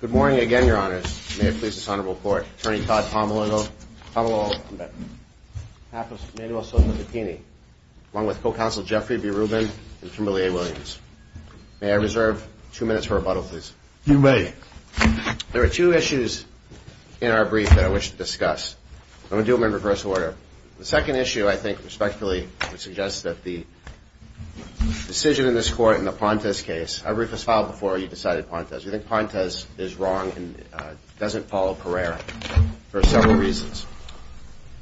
Good morning again, Your Honors. May I please this Honorable Court, Attorney Todd Pommalolo Pommalolo, I'm back, Apples, Manuel Soto Vittini, along with Co-Counsel Jeffrey B. Rubin and Kimberly A. Williams. May I reserve two minutes for rebuttal, please? You may. There are two issues in our brief that I wish to discuss. I'm going to do them in reverse order. The second issue, I think, respectively, would suggest that the is wrong and doesn't follow Pereira for several reasons.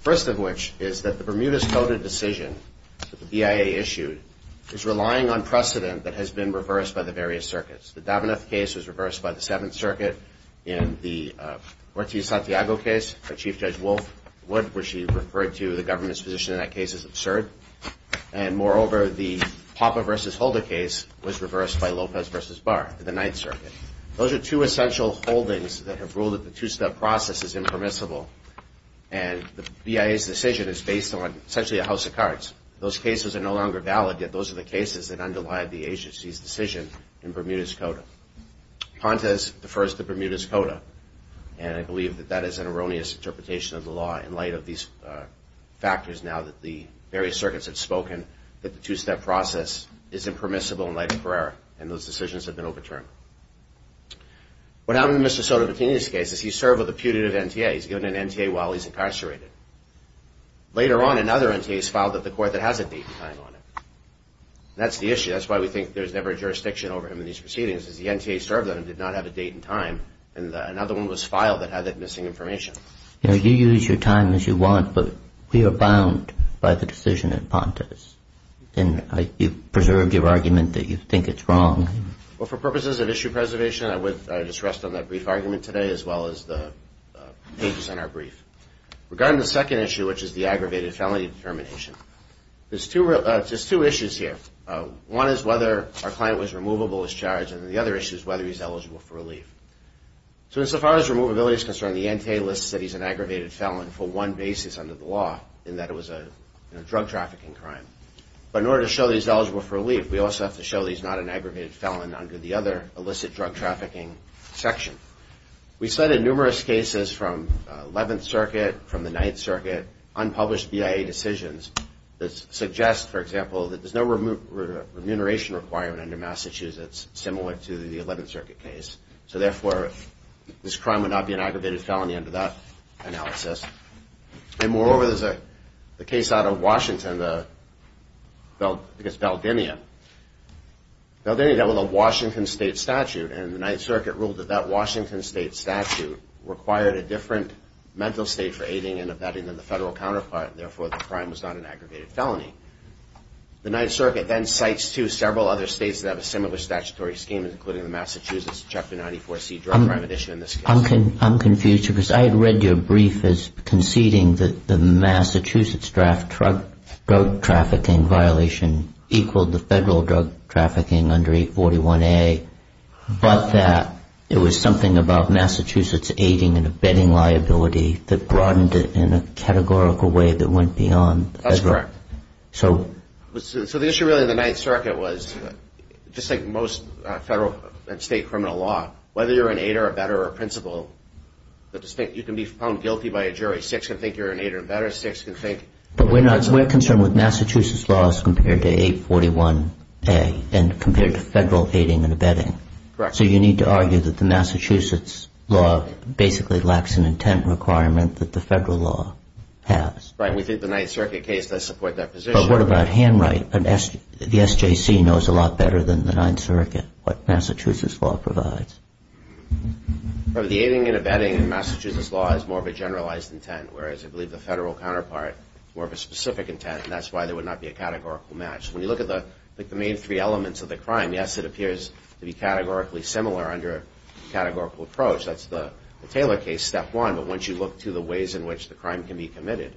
First of which is that the Bermuda's Coda decision that the BIA issued is relying on precedent that has been reversed by the various circuits. The Daveneff case was reversed by the Seventh Circuit in the Ortiz-Santiago case by Chief Judge Wolf Wood, where she referred to the government's position in that case as absurd. And moreover, the Papa v. Holder case was reversed by Lopez v. Barr in the Ninth Circuit. Those are two essential holdings that have ruled that the two-step process is impermissible. And the BIA's decision is based on, essentially, a house of cards. Those cases are no longer valid, yet those are the cases that underlie the agency's decision in Bermuda's Coda. Pontes defers to Bermuda's Coda, and I believe that that is an erroneous interpretation of the law in light of these factors, now that the various circuits have spoken that the two-step process is impermissible in light of Pereira, and those decisions have been overturned. What happened in Mr. Sotopattini's case is he served with a putative NTA. He's given an NTA while he's incarcerated. Later on, another NTA is filed at the court that has a date and time on it. And that's the issue. Well, for purposes of issue preservation, I would just rest on that brief argument today, as well as the pages in our brief. Regarding the second issue, which is the aggravated felony determination, there's two issues here. One is whether our client was removable as charged, and the other issue is whether he's eligible for relief. So as far as removability is concerned, the NTA lists that he's an aggravated felon for one basis under the law, in that it was a drug trafficking crime. But in order to show that he's eligible for relief, we also have to show that he's not an aggravated felon under the other illicit drug trafficking section. We cited numerous cases from 11th Circuit, from the 9th Circuit, unpublished BIA decisions that suggest, for example, that there's no remuneration requirement under Massachusetts similar to the 11th Circuit case. So therefore, this crime would not be an aggravated felony under that analysis. And moreover, there's a case out of Washington, I think it's Beldinia. Beldinia dealt with a Washington state statute, and the 9th Circuit ruled that that Washington state statute required a different mental state for aiding and abetting than the federal counterpart, and therefore the crime was not an aggravated felony. The 9th Circuit then cites, too, several other states that have a similar statutory scheme, including the Massachusetts Chapter 94C Drug Crime Edition in this case. I'm confused, because I had read your brief as conceding that the Massachusetts drug trafficking violation equaled the federal drug trafficking under 841A, but that it was something about Massachusetts aiding and abetting liability that broadened it in a categorical way that went beyond federal. That's correct. So the issue really in the 9th Circuit was, just like most federal and state criminal law, whether you're an aider, abetter, or principal, you can be found guilty by a jury. Six can think you're an aider and abetter. But we're concerned with Massachusetts laws compared to 841A and compared to federal aiding and abetting. Correct. So you need to argue that the Massachusetts law basically lacks an intent requirement that the federal law has. Right. We think the 9th Circuit case does support that position. But what about handwriting? The SJC knows a lot better than the 9th Circuit what Massachusetts law provides. The aiding and abetting in Massachusetts law is more of a generalized intent, whereas I believe the federal counterpart is more of a specific intent, and that's why there would not be a categorical match. It's very similar under a categorical approach. That's the Taylor case, step one. But once you look to the ways in which the crime can be committed,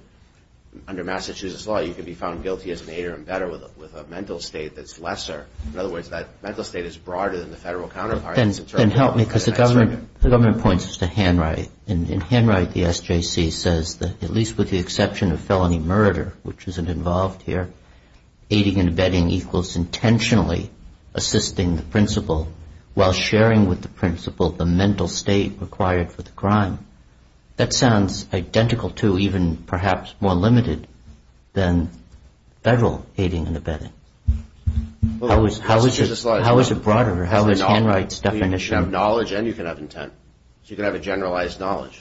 under Massachusetts law, you can be found guilty as an aider and abetter with a mental state that's lesser. In other words, that mental state is broader than the federal counterpart. Then help me, because the government points to handwriting. In handwriting, the SJC says that at least with the exception of felony murder, which isn't involved here, aiding and abetting equals intentionally assisting the principal while sharing with the principal the mental state required for the crime. That sounds identical to, even perhaps more limited, than federal aiding and abetting. How is it broader? You can have knowledge and you can have intent, so you can have a generalized knowledge.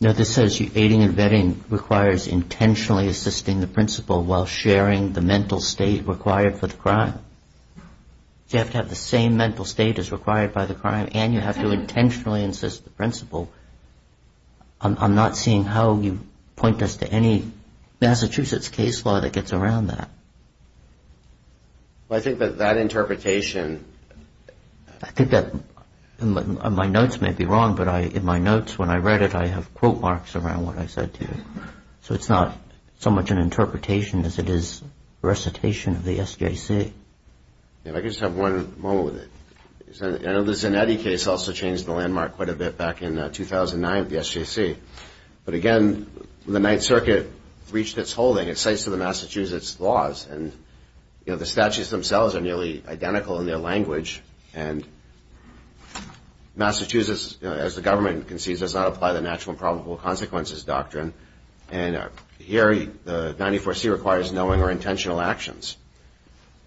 No, this says aiding and abetting requires intentionally assisting the principal while sharing the mental state required for the crime. You have to have the same mental state as required by the crime, and you have to intentionally assist the principal. I'm not seeing how you point us to any Massachusetts case law that gets around that. I think that that interpretation... My notes may be wrong, but in my notes, when I read it, I have quote marks around what I said to you. So it's not so much an interpretation as it is recitation of the SJC. If I could just have one moment with it. I know the Zanetti case also changed the landmark quite a bit back in 2009 with the SJC. But again, the Ninth Circuit reached its holding. It cites the Massachusetts laws, and the statutes themselves are nearly identical in their language. Massachusetts, as the government concedes, does not apply the natural and probable consequences doctrine. And here, the 94C requires knowing or intentional actions.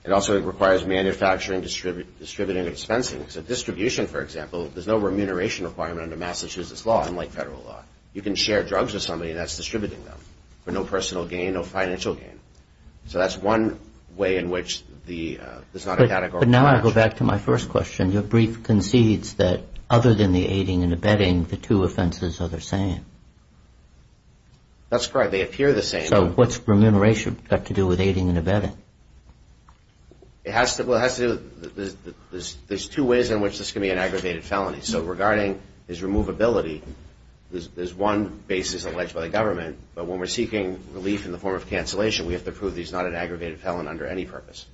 It also requires manufacturing, distributing, and dispensing. So distribution, for example, there's no remuneration requirement under Massachusetts law, unlike federal law. You can share drugs with somebody, and that's distributing them, but no personal gain, no financial gain. So that's one way in which there's not a categorical... But now I go back to my first question. Your brief concedes that other than the aiding and abetting, the two offenses are the same. That's correct. They appear the same. So what's remuneration got to do with aiding and abetting? There's two ways in which this can be an aggravated felony. So regarding his removability, there's one basis alleged by the government. But when we're seeking relief in the form of cancellation, we have to prove he's not an aggravated felon under any purpose.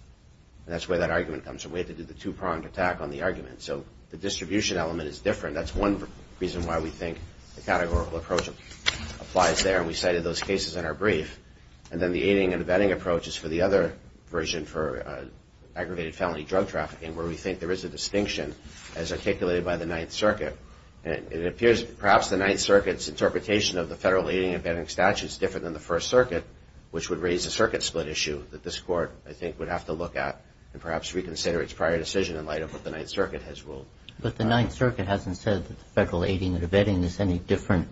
And that's where that argument comes from. We have to do the two-pronged attack on the argument. So the distribution element is different. That's one reason why we think the categorical approach applies there, and we cited those cases in our brief. And then the aiding and abetting approach is for the other version for aggravated felony drug trafficking, where we think there is a distinction as articulated by the Ninth Circuit. And it appears perhaps the Ninth Circuit's interpretation of the federal aiding and abetting statute is different than the First Circuit, which would raise a circuit-split issue that this Court, I think, would have to look at and perhaps reconsider its prior decision in light of what the Ninth Circuit has ruled. But the Ninth Circuit hasn't said that the federal aiding and abetting is any different,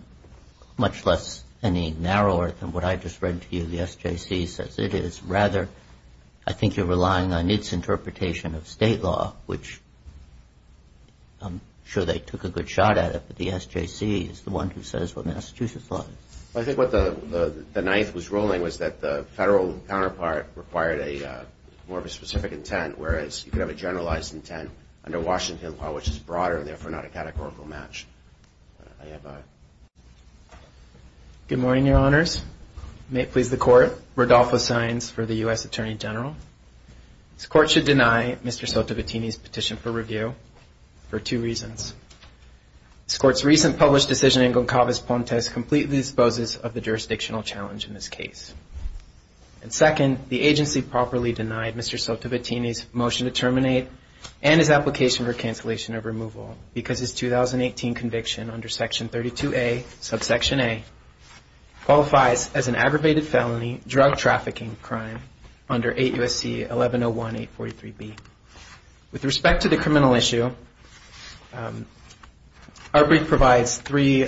much less any narrower than what I just read to you. The SJC says it is. Rather, I think you're relying on its interpretation of state law, which I'm sure they took a good shot at it, but the SJC is the one who says what Massachusetts law is. I think what the Ninth was ruling was that the federal counterpart required more of a specific intent, whereas you could have a generalized intent under Washington law, which is broader and therefore not a categorical match. Good morning, Your Honors. May it please the Court, Rodolfo Saenz for the U.S. Attorney General. This Court should deny Mr. Sotovattini's petition for review for two reasons. This Court's recent published decision in Goncalves-Pontes completely disposes of the jurisdictional challenge in this case. And second, the agency properly denied Mr. Sotovattini's motion to terminate and his application for cancellation of removal because his 2018 conviction under Section 32A, subsection A, qualifies as an aggravated felony drug trafficking crime under 8 U.S.C. 1101-843-B. With respect to the criminal issue, our brief provides three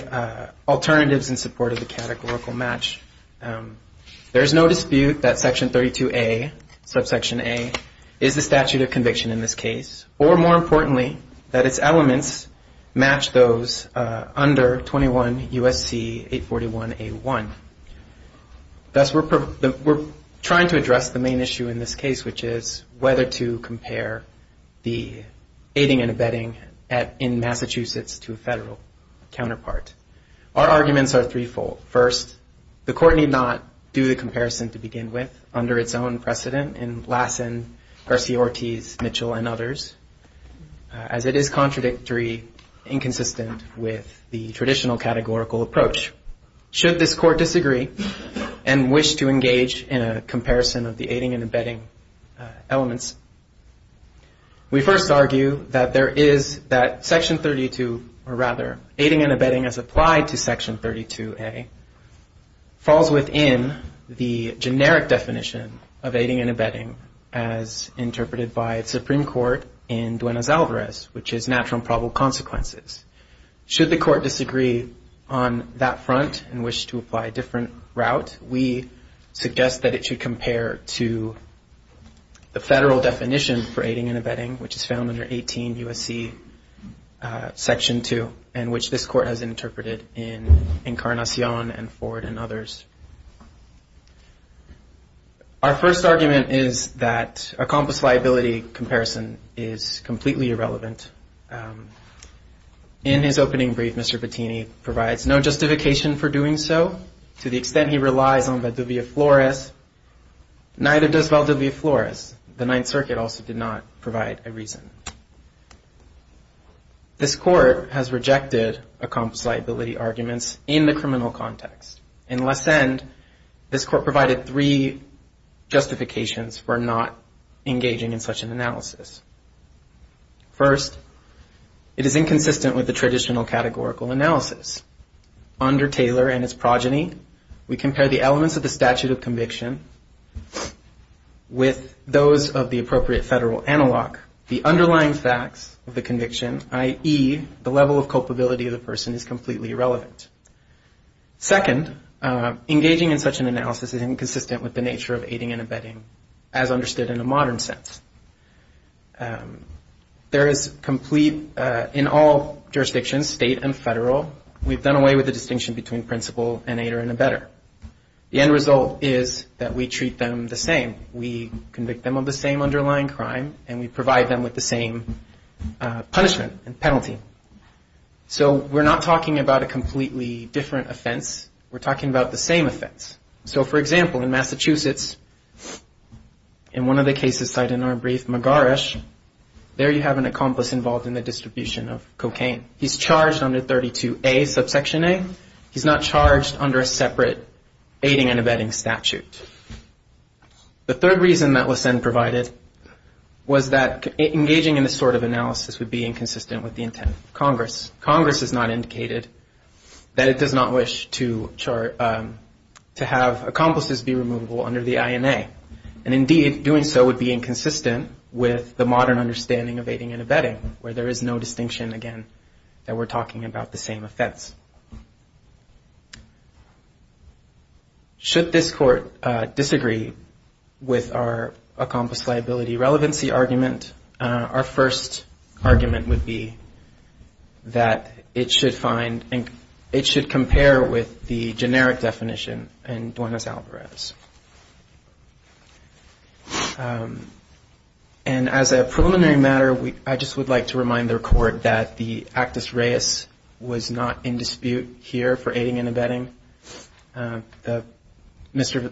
alternatives in support of the categorical match. There is no dispute that Section 32A, subsection A, is the statute of conviction in this case. Or, more importantly, that its elements match those under 21 U.S.C. 841-A1. Thus, we're trying to address the main issue in this case, which is whether to compare the aiding and abetting in Massachusetts to a federal counterpart. Our arguments are threefold. First, the Court need not do the comparison to begin with under its own precedent in Lassen, Garcia-Ortiz, Mitchell, and others, as it is contradictory, inconsistent with the traditional categorical approach. Should this Court disagree and wish to engage in a comparison of the aiding and abetting elements, we first argue that there is that Section 32, or rather, aiding and abetting as applied to Section 32A, falls within the generic definition of aiding and abetting as interpreted by the Supreme Court in Duenas-Alvarez, which is natural and probable consequences. Should the Court disagree on that front and wish to apply a different route, we suggest that it should compare to the federal definition for aiding and abetting, which is found under 18 U.S.C. Section 2, and which this Court has rejected. Our first argument is that a compass liability comparison is completely irrelevant. In his opening brief, Mr. Bettini provides no justification for doing so, to the extent he relies on Valdivia Flores. Neither does Valdivia Flores. The Ninth Circuit also did not provide a reason. This Court has rejected a compass liability arguments in the criminal context. In less end, this Court provided three justifications for not engaging in such an analysis. First, it is inconsistent with the traditional categorical analysis. Under Taylor and his progeny, we compare the elements of the statute of conviction with those of the appropriate federal analog, the underlying facts of the conviction, i.e., the level of culpability of the person is completely irrelevant. Second, engaging in such an analysis is inconsistent with the nature of aiding and abetting, as understood in a modern sense. In all jurisdictions, state and federal, we've done away with the distinction between principal and aider and abetter. The end result is that we treat them the same. We convict them of the same underlying crime, and we provide them with the same punishment and penalty. So we're not talking about a completely different offense. We're talking about the same offense. So, for example, in Massachusetts, in one of the cases cited in our brief, McGarish, there you have an accomplice involved in the distribution of cocaine. He's charged under 32A, subsection A. He's not charged under a separate aiding and abetting statute. The third reason that LeSenn provided was that engaging in this sort of analysis would be inconsistent with the intent of Congress. Congress has not indicated that it does not wish to have accomplices be removable under the INA. And, indeed, doing so would be inconsistent with the modern understanding of aiding and abetting, where there is no distinction between principal and abetter, and we're not talking about the same offense. Should this Court disagree with our accomplice liability relevancy argument, our first argument would be that it should find and it should compare with the generic definition in Duenas-Alvarez. And as a preliminary matter, I just would like to remind the Court that the actus reus was not in dispute here for aiding and abetting. Mr.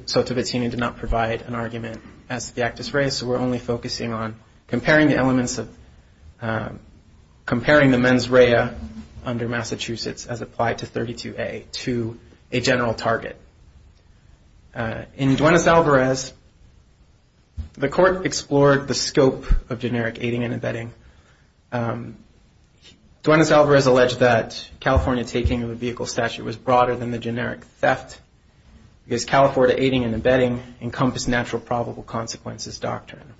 Sotovicini did not provide an argument as to the actus reus, so we're only focusing on comparing the elements of comparing the mens rea under Massachusetts as applied to 32A to a general target. In Duenas-Alvarez, the Court explored the scope of generic aiding and abetting. Duenas-Alvarez alleged that California taking of a vehicle statute was broader than the generic theft, because California aiding and abetting encompass natural probable consequences doctrine.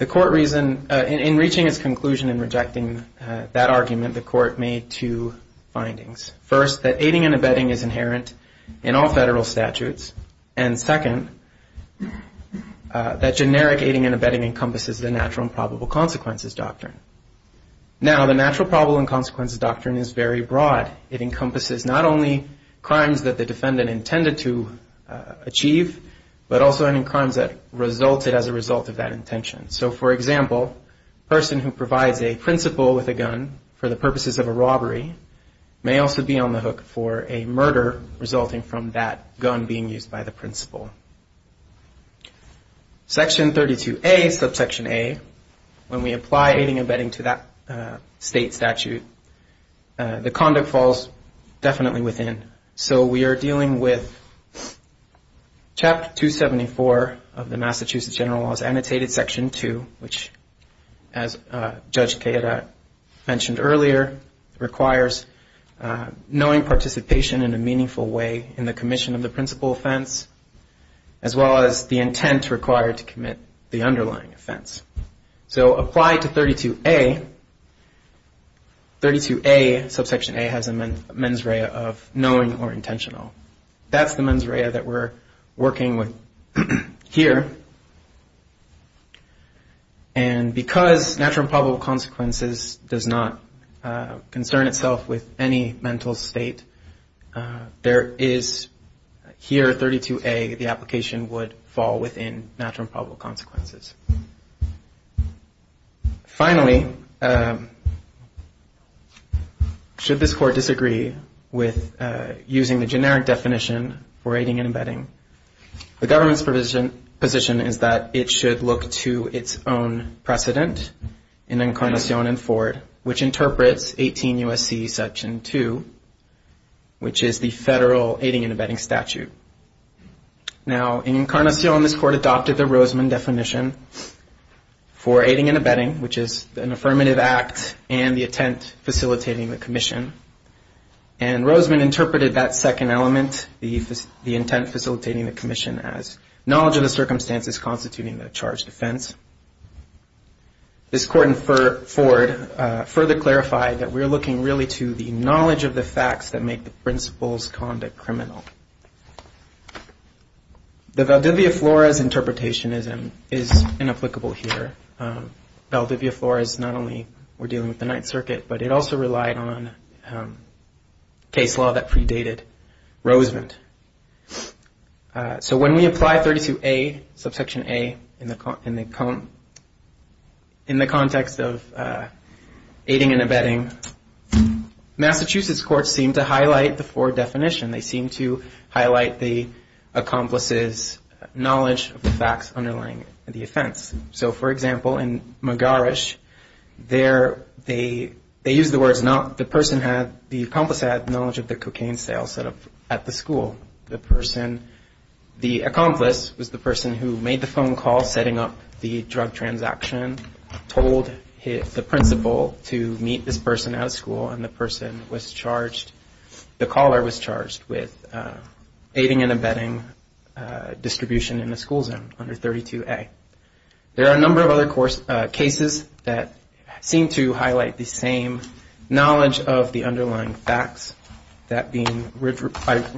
In reaching its conclusion in rejecting that argument, the Court made two findings. First, that aiding and abetting is inherent in all federal statutes, and second, that generic aiding and abetting encompasses the natural probable consequences doctrine. Now, the natural probable consequences doctrine is very broad. It encompasses not only crimes that the defendant intended to achieve, but also any crimes that resulted as a result of that intention. So, for example, a person who provides a principal with a gun for the principal may also be on the hook for a murder resulting from that gun being used by the principal. Section 32A, subsection A, when we apply aiding and abetting to that state statute, the conduct falls definitely within. So, we are dealing with Chapter 274 of the Massachusetts General Law's Annotated Section 2, which, as Judge Queira mentioned earlier, requires knowing participation in a meaningful way in the commission of the principal offense, as well as the intent required to commit the underlying offense. So, applied to 32A, 32A, subsection A, has a mens rea of knowing or intentional. That's the mens rea that we're working with here. And because natural and probable consequences does not concern itself with any mental state, there is here, 32A, the application would fall within natural and probable consequences. Finally, should this Court disagree with using the generic definition for aiding and abetting, the government's position is that the Court should look to its own precedent in Encarnacion and Ford, which interprets 18 U.S.C. Section 2, which is the federal aiding and abetting statute. Now, in Encarnacion, this Court adopted the Rosman definition for aiding and abetting, which is an affirmative act and the intent facilitating the commission. And Rosman interpreted that second element, the intent facilitating the commission, as knowledge of the circumstances constituting the charged offense. This Court in Ford further clarified that we're looking really to the knowledge of the facts that make the principal's conduct criminal. The Valdivia-Flores interpretation is inapplicable here. Valdivia-Flores not only were dealing with the Ninth Circuit, but it also relied on case law that predated Rosman. So when we apply 32A, subsection A, in the context of aiding and abetting, Massachusetts courts seem to highlight the Ford definition. They seem to highlight the accomplice's knowledge of the facts underlying the offense. So, for example, in McGarish, they use the words not the person had, the accomplice had knowledge of the cocaine sale set up at the school. The person, the accomplice was the person who made the phone call setting up the drug transaction, told the principal to meet this person at a school, and the person was charged, the caller was charged with aiding and abetting distribution in the school zone under 32A. There are a number of other cases that seem to highlight the same knowledge of the underlying facts, that being,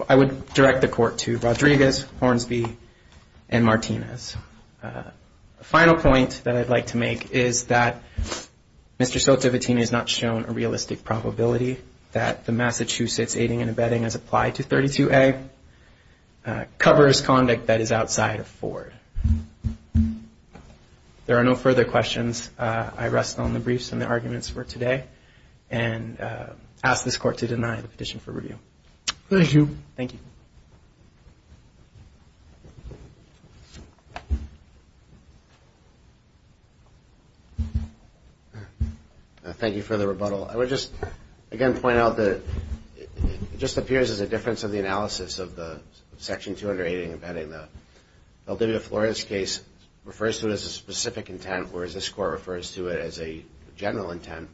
I would direct the court to Rodriguez, Hornsby, and Martinez. A final point that I'd like to make is that Mr. Sotovatini has not shown a realistic probability that the Massachusetts aiding and abetting as applied to 32A covers conduct that is outside of Ford. There are no further questions. I rest on the briefs and the arguments for today, and ask this court to deny the petition for review. Thank you. Thank you for the rebuttal. I would just again point out that it just appears as a difference of the analysis of the Section 280 aiding and abetting. The Valdivia Flores case refers to it as a specific intent, whereas this court refers to it as a general intent.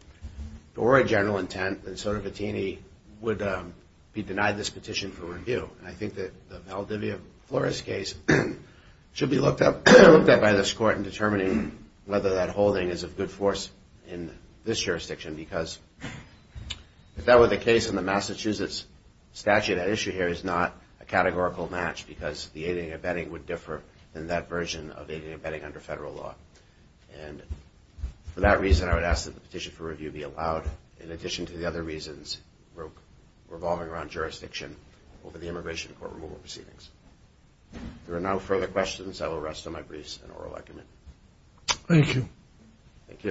If it were a general intent, then Sotovatini would be denied this petition for review. And I think that the Valdivia Flores case should be looked at by this court in determining whether that holding is of good force in this jurisdiction, because if that were the case in the Massachusetts statute, that issue here is not a categorical match, because the Massachusetts aiding and abetting would differ in that version of aiding and abetting under federal law. And for that reason, I would ask that the petition for review be allowed, in addition to the other reasons revolving around jurisdiction over the immigration court removal proceedings. There are no further questions. I will rest on my briefs and oral argument.